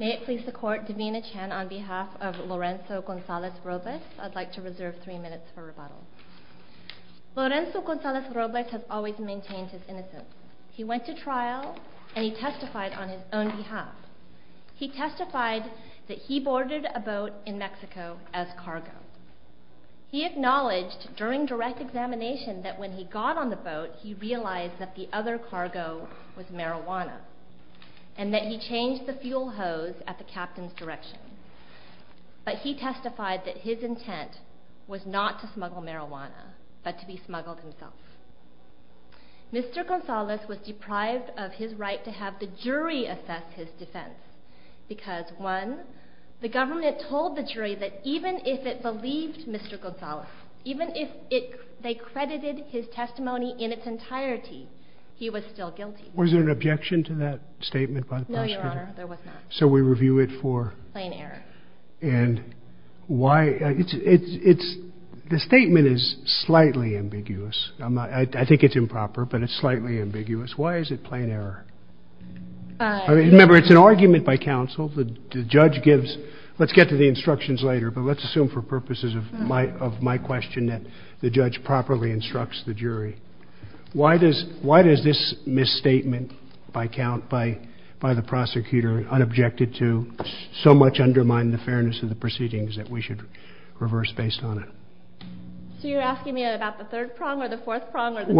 May it please the court, Davina Chan on behalf of Lorenzo Gonzalez-Robles. I'd like to reserve three minutes for rebuttal. Lorenzo Gonzalez-Robles has always maintained his innocence. He went to trial and he testified on his own behalf. He testified that he boarded a boat in Mexico as cargo. He acknowledged during direct examination that when he got on the boat he realized that the other cargo was marijuana and that he changed the fuel hose at the captain's direction. But he testified that his intent was not to smuggle marijuana but to be smuggled himself. Mr. Gonzalez was deprived of his right to have the jury assess his defense because one, the government told the jury that even if it believed Mr. Gonzalez, even if they credited his testimony in its entirety, he was still guilty. Was there an objection to that statement by the prosecutor? No, Your Honor, there was not. So we review it for? Plain error. And why? It's, the statement is slightly ambiguous. I think it's improper but it's slightly ambiguous. Why is it plain error? Remember, it's an argument by counsel. The judge gives, let's get to the instructions later but let's assume for purposes of my question that the judge properly instructs the jury. Why does this misstatement by count by the prosecutor, unobjected to, so much undermine the fairness of the proceedings that we should reverse based on it? So you're asking me about the third prong or the fourth prong or the third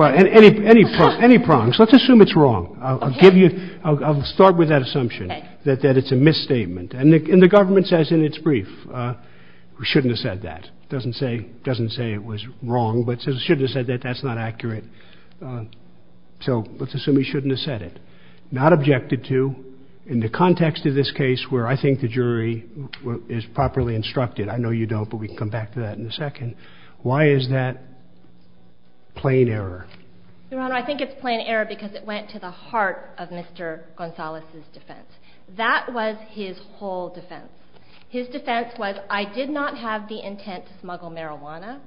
prong? Any prongs. Let's assume it's wrong. I'll give you, I'll start with that assumption that it's a misstatement. And the government says in its brief, we shouldn't have said that. It doesn't say it was wrong but it says we shouldn't have said that, that's not accurate. So let's assume we shouldn't have said it. Not objected to in the context of this case where I think the jury is properly instructed. I know you don't but we can come back to that in a second. Why is that plain error? Your Honor, I think it's plain error because it went to the heart of Mr. Gonzalez's defense. That was his whole defense. His defense was I did not have the intent to smuggle marijuana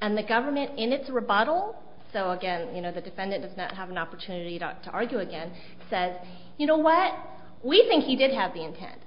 and the government in its rebuttal, so again, you know, the defendant does not have an opportunity to argue again, says, you know what, we think he did have the intent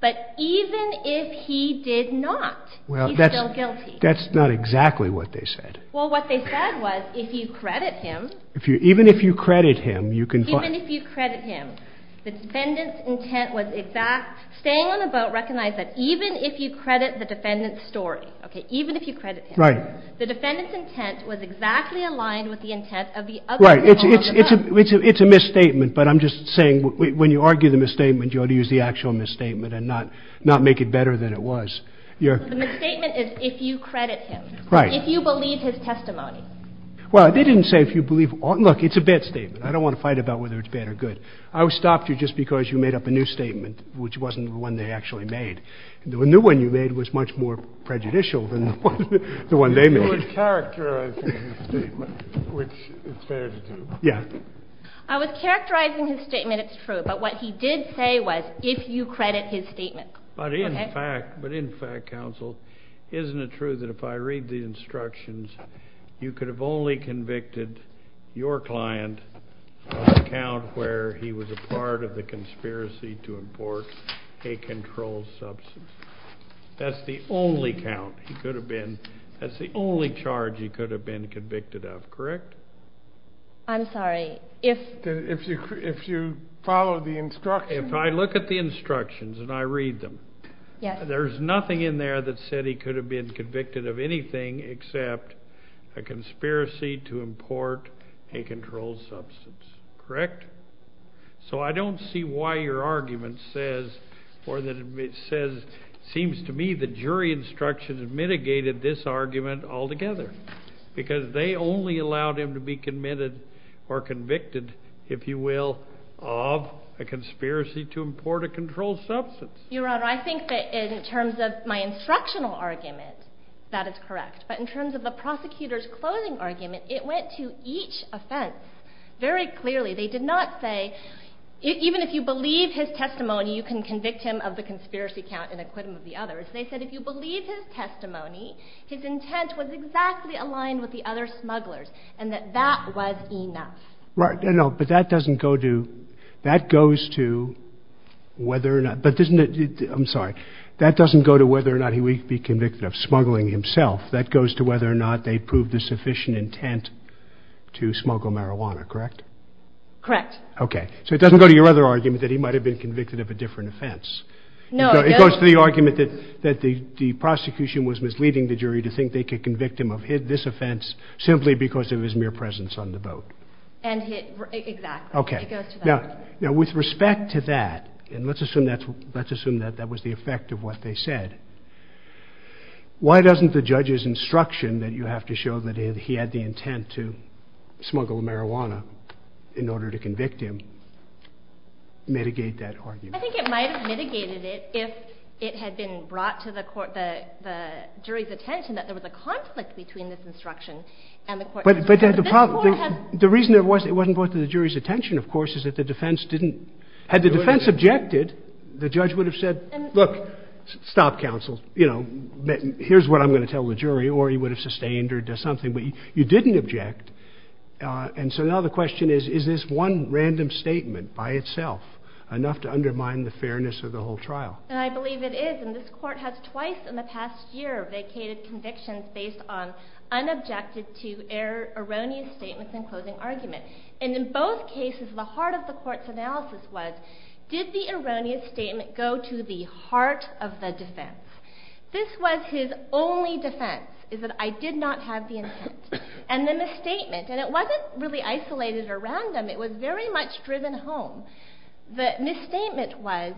but even if he did not, he's still guilty. That's not exactly what they said. Well, what they said was, if you credit him. Even if you credit him, you can find. Even if you credit him, the defendant's intent was exact. Staying on the boat, recognize that even if you credit the defendant's story, okay, even if you credit him. Right. The defendant's intent was exactly aligned with the intent of the other people on the boat. Right, it's a misstatement but I'm just saying when you argue the misstatement, you ought to use the actual misstatement and not make it better than it was. The misstatement is if you credit him. Right. If you believe his testimony. Well, they didn't say if you believe, look, it's a bad statement. I don't want to fight about whether it's bad or good. I stopped you just because you made up a new statement which wasn't the one they actually made. The new one you made was much more prejudicial than the one they made. You were characterizing his statement, which is fair to do. Yeah. I was characterizing his statement, it's true, but what he did say was, if you credit his statement. But in fact, but in fact, counsel, isn't it true that if I read the instructions, you could have only convicted your client on the count where he was a part of the conspiracy to import a controlled substance? That's the only count he could have been, that's the only charge he could have been convicted of, correct? I'm sorry, if. If you follow the instructions. If I look at the instructions and I read them, there's nothing in there that said he could have been convicted of anything except a conspiracy to import a controlled substance, correct? So I don't see why your argument says, or that it says, seems to me the jury instructions mitigated this argument altogether, because they only allowed him to be committed or convicted, if you will, of a conspiracy to import a controlled substance. Your Honor, I think that in terms of my instructional argument, that is correct. But in terms of the prosecutor's closing argument, it went to each offense very clearly. They did not say, even if you believe his testimony, you can convict him of the conspiracy count in acquittal of the others. They said if you believe his testimony, his intent was exactly aligned with the other smugglers and that that was enough. Right. No, but that doesn't go to, that goes to whether or not, but isn't it, I'm sorry, that doesn't go to whether or not he would be convicted of smuggling himself. That goes to whether or not they proved the sufficient intent to smuggle marijuana, correct? Correct. Okay. So it doesn't go to your other argument that he might have been convicted of a different offense. No. It goes to the argument that the prosecution was misleading the jury to think they could convict him of this offense simply because of his mere presence on the boat. And hit, exactly. Okay. It goes to that. Now, with respect to that, and let's assume that that was the effect of what they said, why doesn't the judge's instruction that you have to show that he had the intent to smuggle marijuana in order to convict him mitigate that argument? I think it might have mitigated it if it had been brought to the court, the jury's attention that there was a conflict between this instruction and the court's instruction. But the reason it wasn't brought to the jury's attention, of course, is that the defense didn't, had the defense objected, the judge would have said, look, stop counsel. You know, here's what I'm going to tell the jury, or he would have sustained or something. But you didn't object. And so now the question is, is this one random statement by itself enough to undermine the fairness of the whole trial? And I believe it is. And this court has twice in the past year vacated convictions based on unobjected to err, erroneous statements in closing argument. And in both cases, the heart of the court's analysis was, did the erroneous statement go to the heart of the defense? This was his only defense, is that I did not have the intent. And the misstatement, and it wasn't really isolated or random, it was very much driven home. The misstatement was,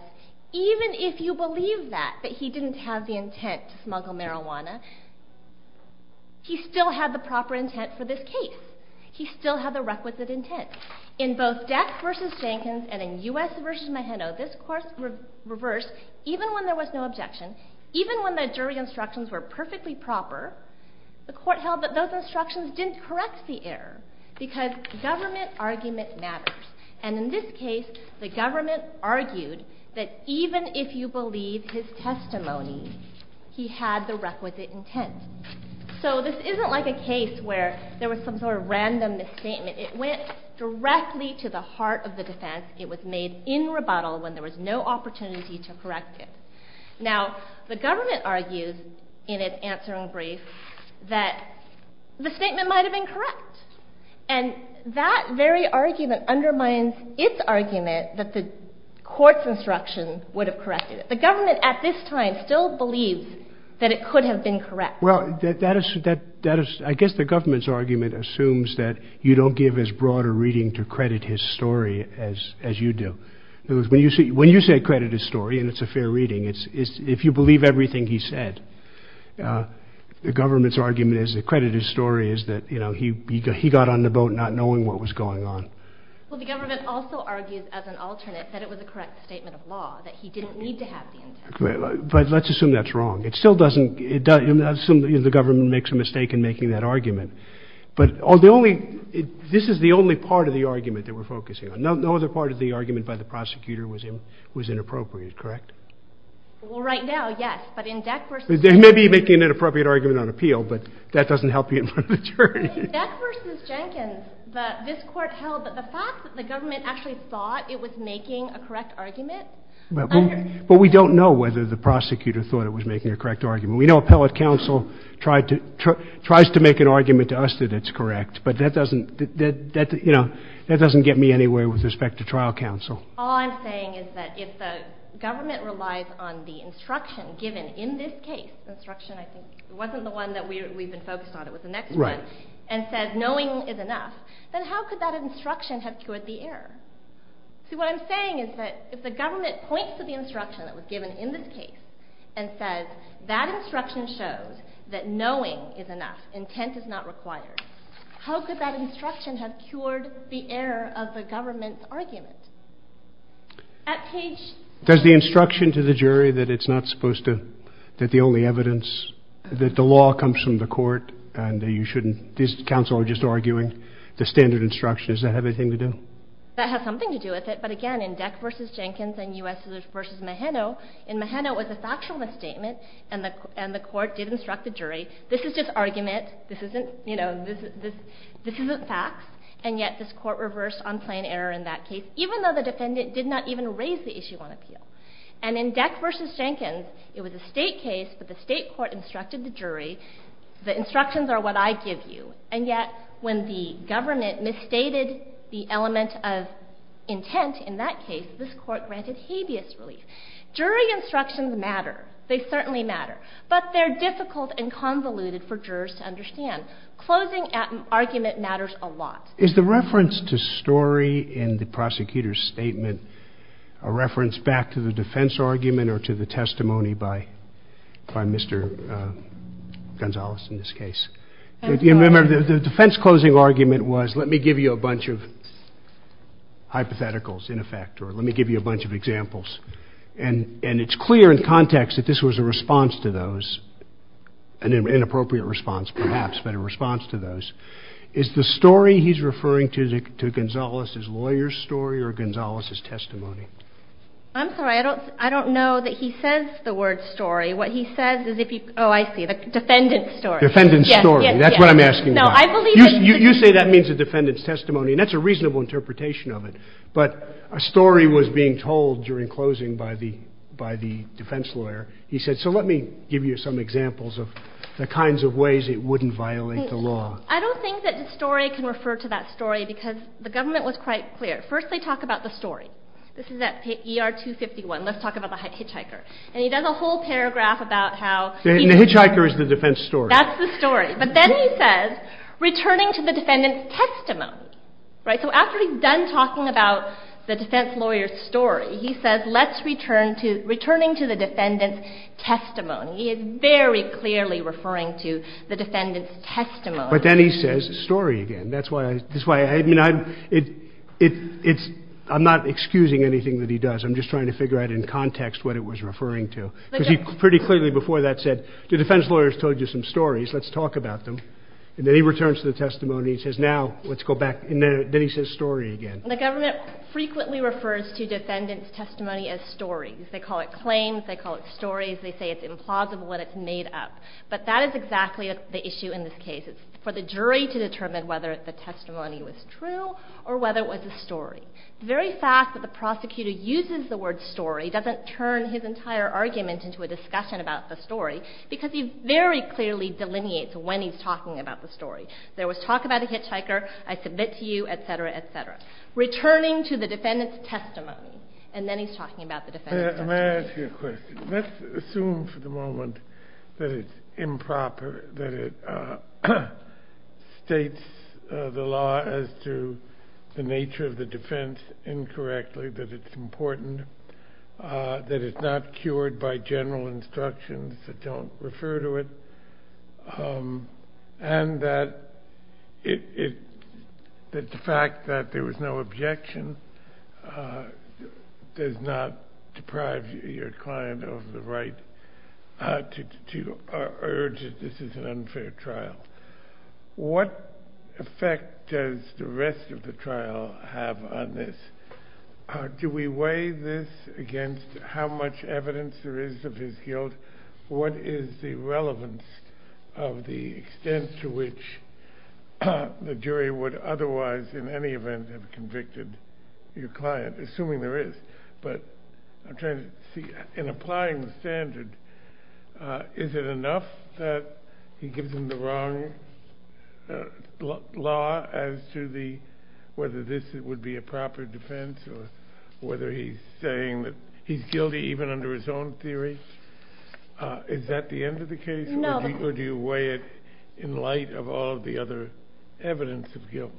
even if you believe that, that he didn't have the intent to smuggle marijuana, he still had the proper intent for this case. He still had the requisite intent. In both Dex v. Jenkins and in U.S. v. Maheno, this course reversed, even when there was no objection, even when the jury instructions were perfectly proper, the court held that those instructions didn't correct the error, because government argument matters. And in this case, the government argued that even if you believe his testimony, he had the requisite intent. So this isn't like a case where there was some sort of random misstatement. It went directly to the heart of the defense. It was made in rebuttal when there was no opportunity to correct it. Now, the government argued in its answer in brief that the statement might have been correct. And that very argument undermines its argument that the court's instruction would have corrected it. The government at this time still believes that it could have been correct. Well, I guess the government's argument assumes that you don't give as broad a reading to credit his story as you do. When you say credit his story, and it's a fair reading, if you believe everything he said, the government's argument is that credit his story is that he got on the boat not knowing what was going on. Well, the government also argues as an alternate that it was a correct statement of law, that he didn't need to have the intent. But let's assume that's wrong. It still doesn't... the government makes a mistake in making that argument. But this is the only part of the argument that we're focusing on. No other part of the argument by the prosecutor was inappropriate, correct? Well, right now, yes. But in Deck versus... They may be making an inappropriate argument on appeal, but that doesn't help you in the journey. In Deck versus Jenkins, this court held that the fact that the government actually thought it was making a correct argument... But we don't know whether the prosecutor thought it was making a correct argument. We know appellate counsel tries to make an argument to us that it's correct. But that doesn't, you know, that doesn't get me anywhere with respect to trial counsel. All I'm saying is that if the government relies on the instruction given in this case, the instruction, I think, wasn't the one that we've been focused on, it was the next one, and says knowing is enough, then how could that instruction have cured the error? See, what I'm saying is that if the government points to the instruction that was given in this case and says that instruction shows that knowing is enough, intent is not required, how could that instruction have cured the error of the government's argument? At page... Does the instruction to the jury that it's not supposed to, that the only evidence, that the law comes from the court, and that you shouldn't, these counsel are just arguing the standard instruction, does that have anything to do? That has something to do with it, but again, in Deck versus Jenkins and U.S. versus Mahano, in Mahano it was a factual misstatement, and the court did instruct the jury, this is just this isn't facts, and yet this court reversed on plain error in that case, even though the defendant did not even raise the issue on appeal. And in Deck versus Jenkins, it was a state case, but the state court instructed the jury, the instructions are what I give you, and yet when the government misstated the element of intent in that case, this court granted habeas relief. Jury instructions matter, they certainly matter, but they're difficult and convoluted for me, and the argument matters a lot. Is the reference to story in the prosecutor's statement a reference back to the defense argument or to the testimony by Mr. Gonzales in this case? The defense closing argument was, let me give you a bunch of hypotheticals in effect, or let me give you a bunch of examples, and it's clear in context that this was a response to those, an inappropriate response perhaps, but a response to those. Is the story he's referring to Gonzales' lawyer's story or Gonzales' testimony? I'm sorry, I don't know that he says the word story. What he says is if you, oh I see, the defendant's story. Defendant's story, that's what I'm asking about. You say that means the defendant's testimony, and that's a reasonable interpretation of it, but a story was being told during closing by the defense lawyer. He said, so let me give you some examples of the kinds of ways it wouldn't violate the law. I don't think that the story can refer to that story because the government was quite clear. First they talk about the story. This is at ER 251. Let's talk about the hitchhiker, and he does a whole paragraph about how he. And the hitchhiker is the defense story. That's the story, but then he says, returning to the defendant's testimony, right? So after he's done talking about the defense lawyer's story, he says, let's return to, to the defendant's testimony. He is very clearly referring to the defendant's testimony. But then he says story again. That's why, that's why, I mean, I'm, it, it, it's, I'm not excusing anything that he does. I'm just trying to figure out in context what it was referring to. Because he pretty clearly before that said, the defense lawyer's told you some stories. Let's talk about them. And then he returns to the testimony and says, now let's go back, and then he says story again. The government frequently refers to defendant's testimony as stories. They call it claims. They call it stories. They say it's implausible and it's made up. But that is exactly the issue in this case. It's for the jury to determine whether the testimony was true or whether it was a story. The very fact that the prosecutor uses the word story doesn't turn his entire argument into a discussion about the story, because he very clearly delineates when he's talking about the story. There was talk about the hitchhiker, I submit to you, et cetera, et cetera. Returning to the defendant's testimony. And then he's talking about the defendant's testimony. May I ask you a question? Let's assume for the moment that it's improper, that it states the law as to the nature of the defense incorrectly, that it's important, that it's not cured by general instructions that don't refer to it, and that the fact that there was no objection does not deprive your client of the right to urge that this is an unfair trial. What effect does the rest of the trial have on this? Do we weigh this against how much evidence there is of his guilt? What is the relevance of the extent to which the jury would otherwise in any event have convicted your client, assuming there is? But I'm trying to see, in applying the standard, is it enough that he gives him the wrong law as to whether this would be a proper defense or whether he's saying that he's guilty even under his own theory? Is that the end of the case? No. Or do you weigh it in light of all of the other evidence of guilt?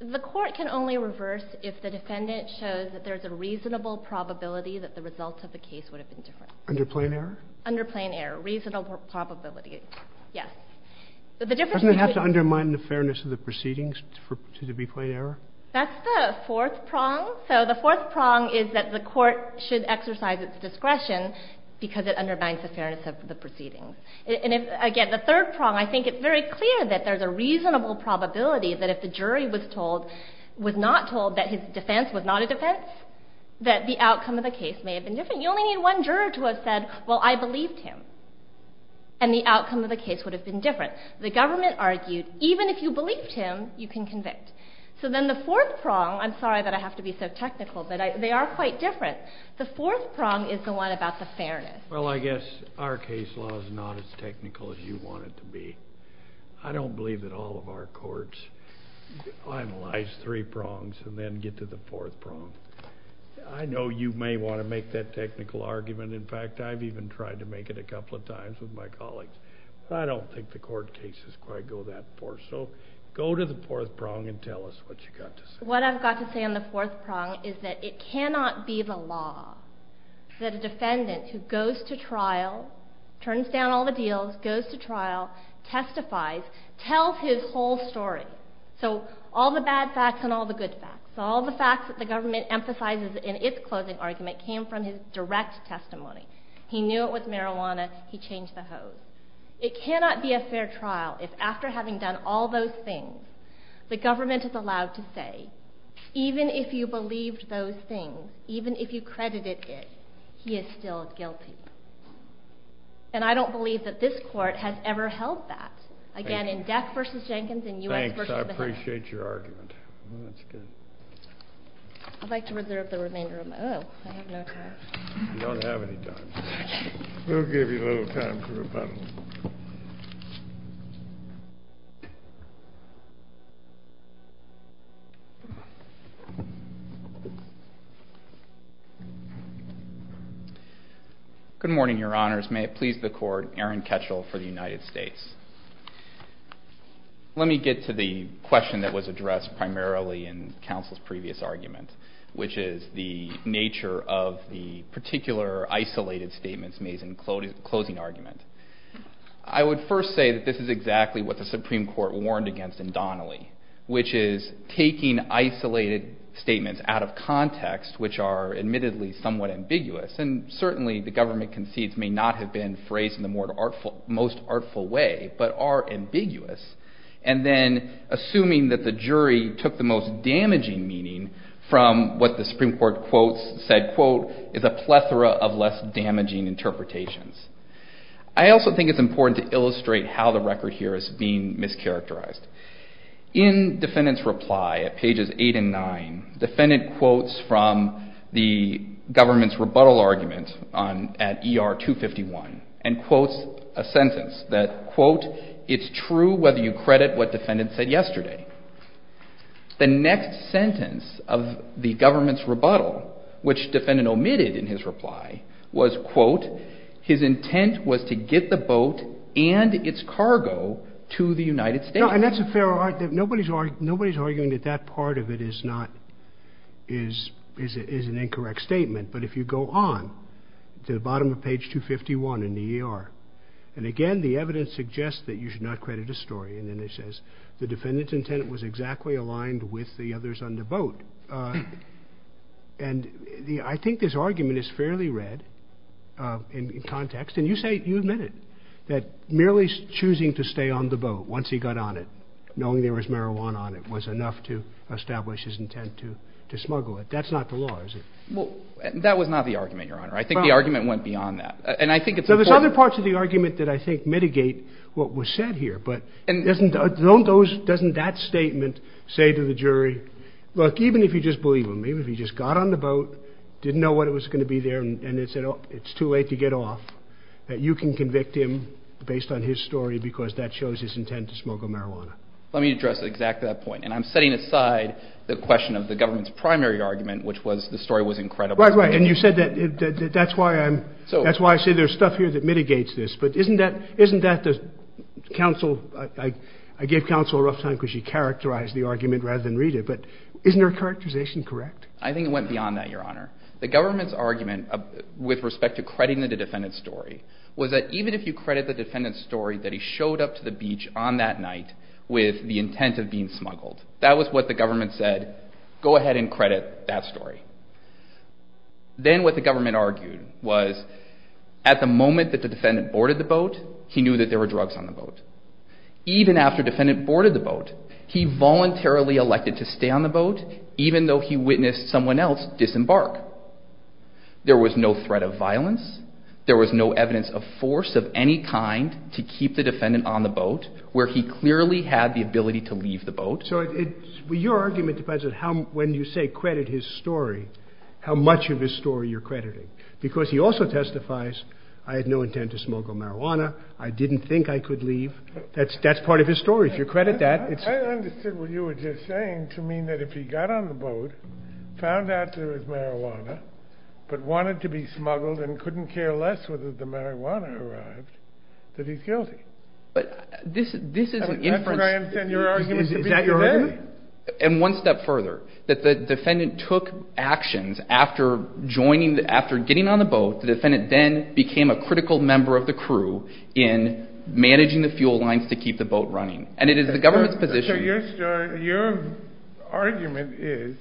The court can only reverse if the defendant shows that there's a reasonable probability that the results of the case would have been different. Under plain error? Under plain error. Reasonable probability. Yes. Doesn't it have to undermine the fairness of the proceedings to be plain error? That's the fourth prong. So the fourth prong is that the court should exercise its discretion because it undermines the fairness of the proceedings. And again, the third prong, I think it's very clear that there's a reasonable probability that if the jury was not told that his defense was not a defense, that the outcome of the case may have been different. You only need one juror to have said, well, I believed him. And the outcome of the case would have been different. The government argued, even if you believed him, you can convict. So then the fourth prong, I'm sorry that I have to be so technical, but they are quite different. The fourth prong is the one about the fairness. Well, I guess our case law is not as technical as you want it to be. I don't believe that all of our courts finalize three prongs and then get to the fourth prong. I know you may want to make that technical argument. In fact, I've even tried to make it a couple of times with my colleagues. I don't think the court cases quite go that far. So go to the fourth prong and tell us what you've got to say. What I've got to say on the fourth prong is that it cannot be the law that a defendant who goes to trial, turns down all the deals, goes to trial, testifies, tells his whole story. So all the bad facts and all the good facts, all the facts that the government emphasizes in its closing argument came from his direct testimony. He knew it was marijuana. He changed the hose. It cannot be a fair trial if after having done all those things, the government is allowed to say, even if you believed those things, even if you credited it, he is still guilty. And I don't believe that this court has ever held that. Again, in Death v. Jenkins and U.S. v. Baha'i. Thanks. I appreciate your argument. That's good. I'd like to reserve the remainder of my, oh, I have no time. You don't have any time. We'll give you a little time to rebuttal. Good morning, your honors. May it please the court, Aaron Ketchel for the United States. Let me get to the question that was addressed primarily in counsel's previous argument, which is the nature of the particular isolated statements made in closing argument. I would first say that this is exactly what the Supreme Court warned against in Donnelly, which is taking isolated statements out of context, which are admittedly somewhat ambiguous. And certainly the government concedes may not have been phrased in the most artful way, but are ambiguous. And then assuming that the jury took the most damaging meaning from what the Supreme Court said, quote, is a plethora of less damaging interpretations. I also think it's important to illustrate how the record here is being mischaracterized. In defendant's reply at pages eight and nine, defendant quotes from the government's rebuttal argument at ER 251, and quotes a sentence that, quote, it's true whether you credit what defendant said yesterday. The next sentence of the government's rebuttal, which defendant omitted in his reply, was, quote, his intent was to get the boat and its cargo to the United States. And that's a fair argument. Nobody's arguing that that part of it is an incorrect statement. But if you go on to the bottom of page 251 in the ER, and again, the evidence suggests that you should not credit a story. And then it says the defendant's intent was exactly aligned with the others on the boat. And I think this argument is fairly read in context. And you admit it, that merely choosing to stay on the boat once he got on it, knowing there was marijuana on it, was enough to establish his intent to smuggle it. That's not the law, is it? Well, that was not the argument, Your Honor. I think the argument went beyond that. And I think it's important. So there's other parts of the argument that I think mitigate what was said here. But doesn't that statement say to the jury, look, even if you just believe him, even if he just got on the boat, didn't know what was going to be there, and it's too late to get off, that you can convict him based on his story because that shows his intent to smuggle marijuana. Let me address exactly that point. And I'm setting aside the question of the government's primary argument, which was the story was incredible. Right, right. And you said that's why I say there's stuff here that mitigates this. But isn't that the counsel – I gave counsel a rough time because she characterized the argument rather than read it. But isn't her characterization correct? I think it went beyond that, Your Honor. The government's argument with respect to crediting the defendant's story was that even if you credit the defendant's story that he showed up to the beach on that night with the intent of being smuggled, that was what the government said, go ahead and credit that story. Then what the government argued was at the moment that the defendant boarded the boat, he knew that there were drugs on the boat. Even after the defendant boarded the boat, he voluntarily elected to stay on the boat even though he witnessed someone else disembark. There was no threat of violence. There was no evidence of force of any kind to keep the defendant on the boat where he clearly had the ability to leave the boat. So your argument depends on when you say credit his story, how much of his story you're crediting. Because he also testifies, I had no intent to smuggle marijuana. I didn't think I could leave. That's part of his story. If you credit that. I understood what you were just saying to mean that if he got on the boat, found out there was marijuana, but wanted to be smuggled and couldn't care less whether the marijuana arrived, that he's guilty. But this is an inference. Is that your argument? And one step further, that the defendant took actions after getting on the boat, the defendant then became a critical member of the crew in managing the fuel lines to keep the boat running. And it is the government's position. Your argument is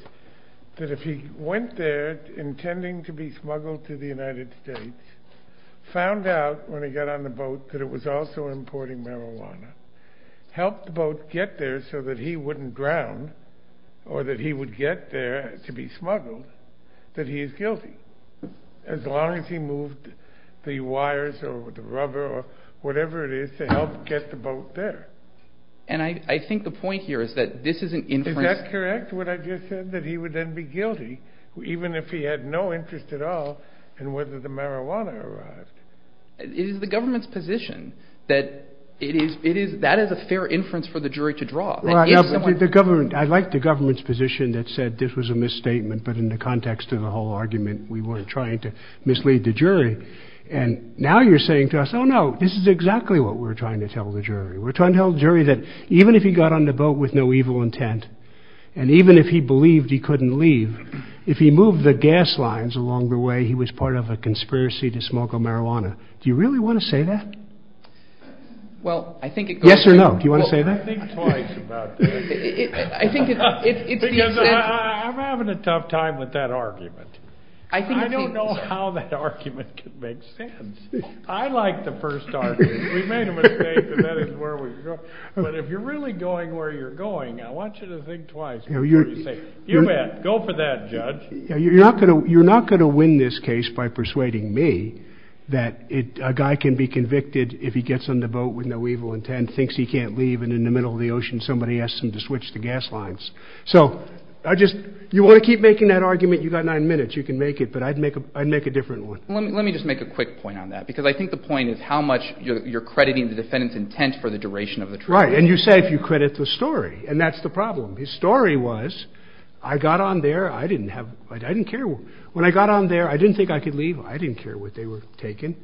that if he went there intending to be smuggled to the United States, found out when he got on the boat that it was also importing marijuana, helped the boat get there so that he wouldn't drown or that he would get there to be smuggled, that he is guilty as long as he moved the wires or the rubber or whatever it is to help get the boat there. And I think the point here is that this is an inference. Is that correct, what I just said, that he would then be guilty even if he had no interest at all in whether the marijuana arrived? It is the government's position that that is a fair inference for the jury to draw. I like the government's position that said this was a misstatement, but in the context of the whole argument we weren't trying to mislead the jury. And now you're saying to us, oh no, this is exactly what we're trying to tell the jury. We're trying to tell the jury that even if he got on the boat with no evil intent and even if he believed he couldn't leave, if he moved the gas lines along the way he was part of a conspiracy to smuggle marijuana. Do you really want to say that? Yes or no, do you want to say that? I think twice about that. Because I'm having a tough time with that argument. I don't know how that argument could make sense. I like the first argument. We made a mistake and that is where we were going. But if you're really going where you're going, I want you to think twice before you say, you bet, go for that judge. You're not going to win this case by persuading me that a guy can be convicted if he gets on the boat with no evil intent, thinks he can't leave, and in the middle of the ocean somebody asks him to switch the gas lines. So you want to keep making that argument, you've got nine minutes, you can make it, but I'd make a different one. Let me just make a quick point on that. Because I think the point is how much you're crediting the defendant's intent for the duration of the trial. Right, and you say if you credit the story, and that's the problem. His story was, I got on there, I didn't care. When I got on there, I didn't think I could leave. I didn't care what they were taking.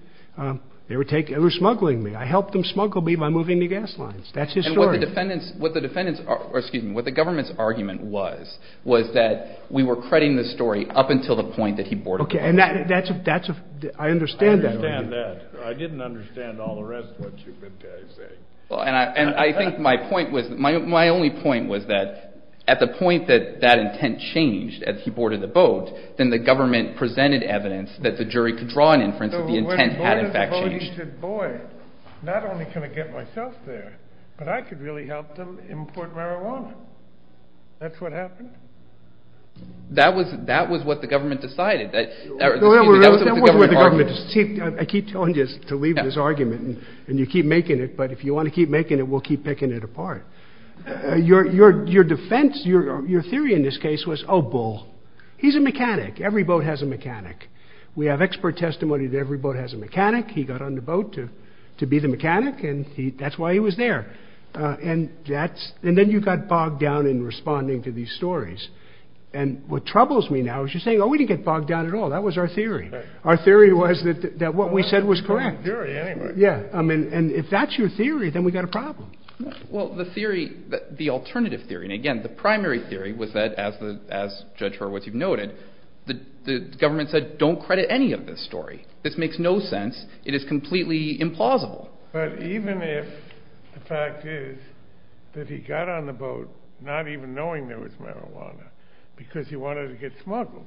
They were smuggling me. I helped them smuggle me by moving the gas lines. That's his story. What the government's argument was was that we were crediting the story up until the point that he boarded the boat. Okay, and that's a, I understand that. I understand that. I didn't understand all the rest of what you've been saying. And I think my point was, my only point was that at the point that that intent changed as he boarded the boat, then the government presented evidence that the jury could draw an inference that the intent had in fact changed. And they said, boy, not only can I get myself there, but I could really help them import marijuana. That's what happened. That was what the government decided. That was what the government argued. I keep telling you to leave this argument, and you keep making it, but if you want to keep making it, we'll keep picking it apart. Your defense, your theory in this case was, oh, Bull, he's a mechanic. Every boat has a mechanic. We have expert testimony that every boat has a mechanic. He got on the boat to be the mechanic, and that's why he was there. And then you got bogged down in responding to these stories. And what troubles me now is you're saying, oh, we didn't get bogged down at all. That was our theory. Our theory was that what we said was correct. Yeah, and if that's your theory, then we've got a problem. Well, the theory, the alternative theory, and again, the primary theory was that, as Judge Horowitz, you've noted, the government said don't credit any of this story. This makes no sense. It is completely implausible. But even if the fact is that he got on the boat not even knowing there was marijuana because he wanted to get smuggled,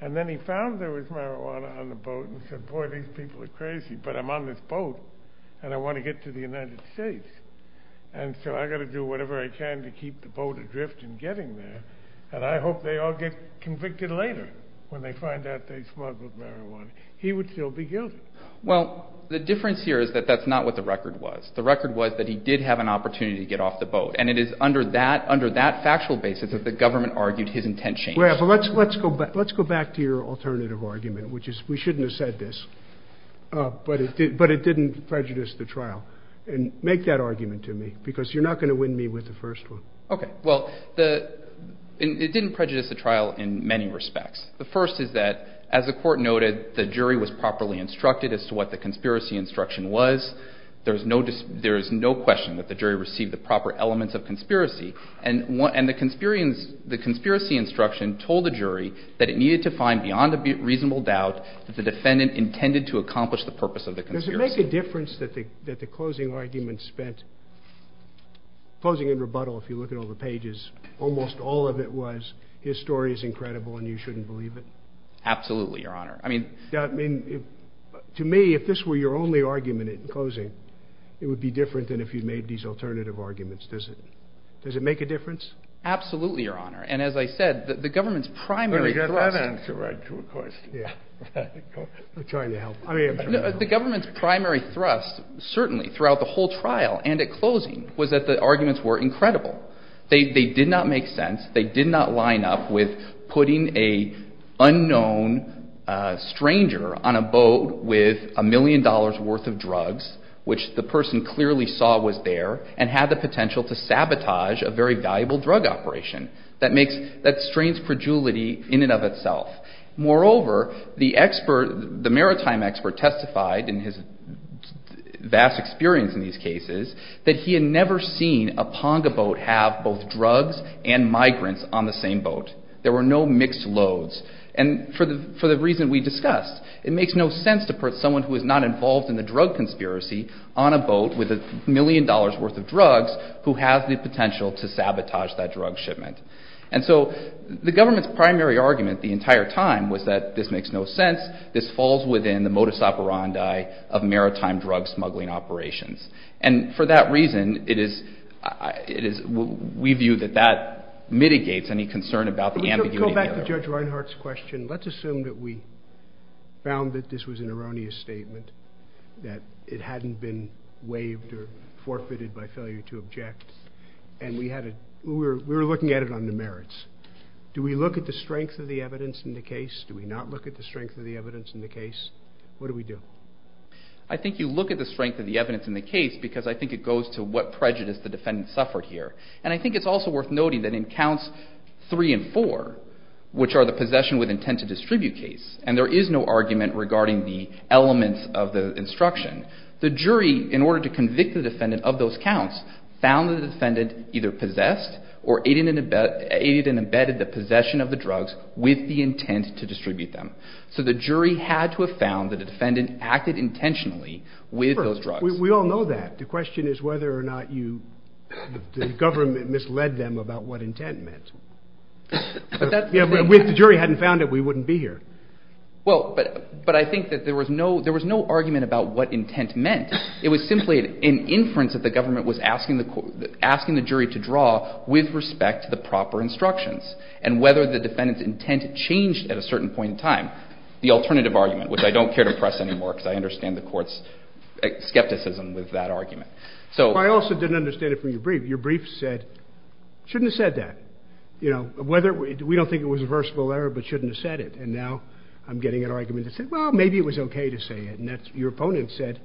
and then he found there was marijuana on the boat and said, boy, these people are crazy, but I'm on this boat, and I want to get to the United States, and so I've got to do whatever I can to keep the boat adrift in getting there, and I hope they all get convicted later when they find out they smuggled marijuana. He would still be guilty. Well, the difference here is that that's not what the record was. The record was that he did have an opportunity to get off the boat, and it is under that factual basis that the government argued his intent changed. Let's go back to your alternative argument, which is we shouldn't have said this, but it didn't prejudice the trial. Make that argument to me because you're not going to win me with the first one. Okay. Well, it didn't prejudice the trial in many respects. The first is that, as the court noted, the jury was properly instructed as to what the conspiracy instruction was. There is no question that the jury received the proper elements of conspiracy, and the conspiracy instruction told the jury that it needed to find beyond a reasonable doubt that the defendant intended to accomplish the purpose of the conspiracy. Does it make a difference that the closing argument spent, closing in rebuttal, if you look at all the pages, almost all of it was his story is incredible and you shouldn't believe it? Absolutely, Your Honor. To me, if this were your only argument in closing, it would be different than if you made these alternative arguments. Does it make a difference? Absolutely, Your Honor. And as I said, the government's primary thrust certainly throughout the whole trial and at closing was that the arguments were incredible. They did not make sense. They did not line up with putting an unknown stranger on a boat with a million dollars worth of drugs, which the person clearly saw was there, and had the potential to sabotage a very valuable drug operation. That strains credulity in and of itself. Moreover, the maritime expert testified in his vast experience in these cases that he had never seen a ponga boat have both drugs and migrants on the same boat. There were no mixed loads. And for the reason we discussed, it makes no sense to put someone who is not involved in the drug conspiracy on a boat with a million dollars worth of drugs who has the potential to sabotage that drug shipment. And so the government's primary argument the entire time was that this makes no sense, this falls within the modus operandi of maritime drug smuggling operations. And for that reason, we view that that mitigates any concern about the ambiguity. Let's go back to Judge Reinhart's question. Let's assume that we found that this was an erroneous statement, that it hadn't been waived or forfeited by failure to object, and we were looking at it on the merits. Do we look at the strength of the evidence in the case? Do we not look at the strength of the evidence in the case? What do we do? I think you look at the strength of the evidence in the case because I think it goes to what prejudice the defendant suffered here. And I think it's also worth noting that in counts 3 and 4, which are the possession with intent to distribute case, and there is no argument regarding the elements of the instruction, the jury, in order to convict the defendant of those counts, found the defendant either possessed or aided and abetted the possession of the drugs with the intent to distribute them. So the jury had to have found that the defendant acted intentionally with those drugs. We all know that. The question is whether or not the government misled them about what intent meant. If the jury hadn't found it, we wouldn't be here. Well, but I think that there was no argument about what intent meant. It was simply an inference that the government was asking the jury to draw with respect to the proper instructions and whether the defendant's intent changed at a certain point in time. The alternative argument, which I don't care to press anymore because I understand the court's skepticism with that argument. I also didn't understand it from your brief. Your brief said, shouldn't have said that. We don't think it was a versatile error, but shouldn't have said it. And now I'm getting an argument that said, well, maybe it was okay to say it. And your opponent said,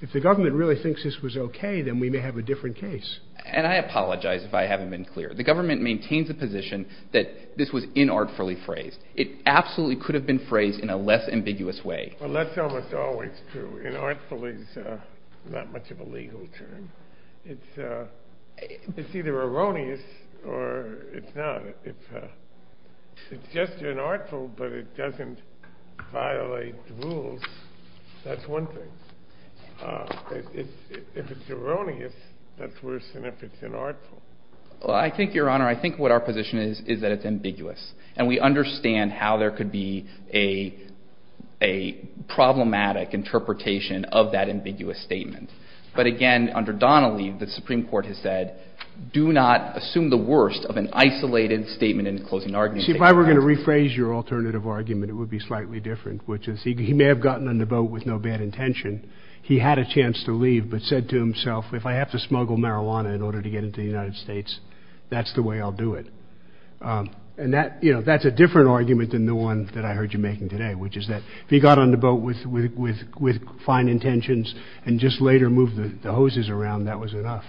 if the government really thinks this was okay, then we may have a different case. And I apologize if I haven't been clear. The government maintains the position that this was inartfully phrased. It absolutely could have been phrased in a less ambiguous way. Well, that's almost always true. Inartful is not much of a legal term. It's either erroneous or it's not. It's just inartful, but it doesn't violate the rules. That's one thing. If it's erroneous, that's worse than if it's inartful. Well, I think, Your Honor, I think what our position is is that it's ambiguous. And we understand how there could be a problematic interpretation of that ambiguous statement. But, again, under Donnelly, the Supreme Court has said, do not assume the worst of an isolated statement in a closing argument. See, if I were going to rephrase your alternative argument, it would be slightly different, which is he may have gotten on the boat with no bad intention. He had a chance to leave but said to himself, if I have to smuggle marijuana in order to get into the United States, that's the way I'll do it. And that's a different argument than the one that I heard you making today, which is that if he got on the boat with fine intentions and just later moved the hoses around, that was enough.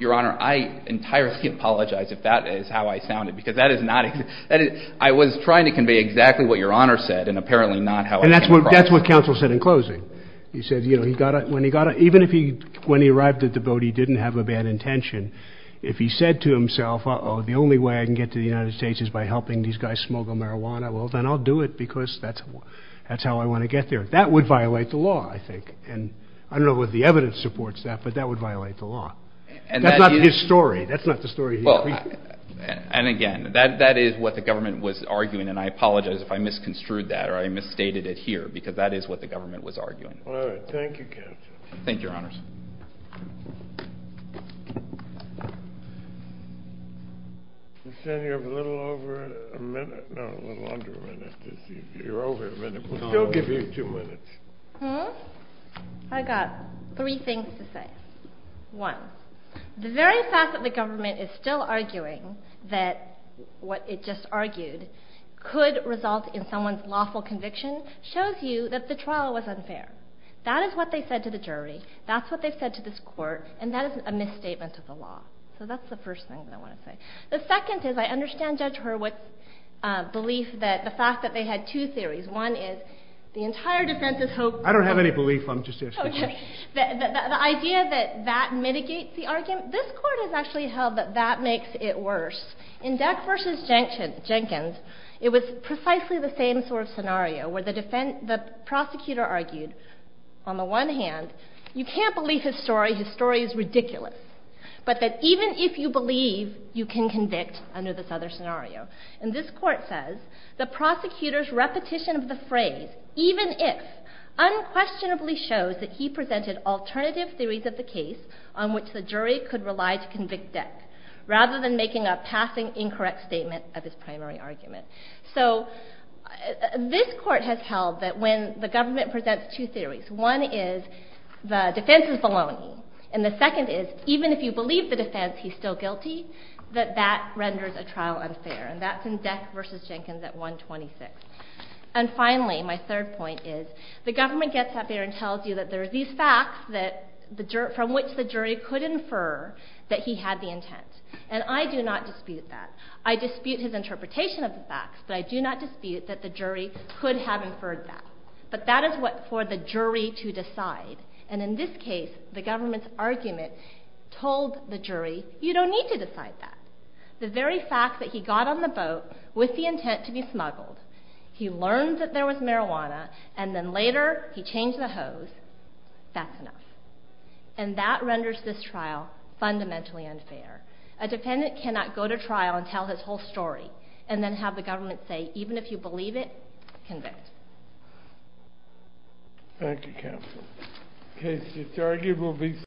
Your Honor, I entirely apologize if that is how I sounded because that is not – I was trying to convey exactly what Your Honor said and apparently not how I came across. And that's what counsel said in closing. He said, you know, when he got on – even if he – when he arrived at the boat, he didn't have a bad intention. If he said to himself, uh-oh, the only way I can get to the United States is by helping these guys smuggle marijuana, well, then I'll do it because that's how I want to get there. That would violate the law, I think. And I don't know whether the evidence supports that, but that would violate the law. That's not his story. That's not the story he – Well, and again, that is what the government was arguing. And I apologize if I misconstrued that or I misstated it here because that is what the government was arguing. All right. Thank you, counsel. Thank you, Your Honors. You said you have a little over a minute – no, a little under a minute. You're over a minute, but I'll still give you two minutes. Hmm? I've got three things to say. One, the very fact that the government is still arguing that what it just argued could result in someone's lawful conviction shows you that the trial was unfair. That is what they said to the jury. That's what they said to this court, and that is a misstatement of the law. So that's the first thing that I want to say. The second is I understand Judge Hurwitz' belief that – the fact that they had two theories. One is the entire defense is hoping – I don't have any belief. I'm just asking. Okay. The idea that that mitigates the argument. This court has actually held that that makes it worse. In Deck v. Jenkins, it was precisely the same sort of scenario where the prosecutor argued, on the one hand, you can't believe his story. His story is ridiculous. But that even if you believe, you can convict under this other scenario. And this court says, the prosecutor's repetition of the phrase, even if, unquestionably shows that he presented alternative theories of the case on which the jury could rely to convict Deck, rather than making a passing incorrect statement of his primary argument. So this court has held that when the government presents two theories, one is the defense is baloney, and the second is even if you believe the defense, he's still guilty, that that renders a trial unfair. And that's in Deck v. Jenkins at 126. And finally, my third point is, the government gets up there and tells you that there are these facts from which the jury could infer that he had the intent. And I do not dispute that. I dispute his interpretation of the facts, but I do not dispute that the jury could have inferred that. But that is for the jury to decide. And in this case, the government's argument told the jury, you don't need to decide that. The very fact that he got on the boat with the intent to be smuggled, he learned that there was marijuana, and then later he changed the hose, that's enough. And that renders this trial fundamentally unfair. A defendant cannot go to trial and tell his whole story, and then have the government say, even if you believe it, convict. Thank you, counsel.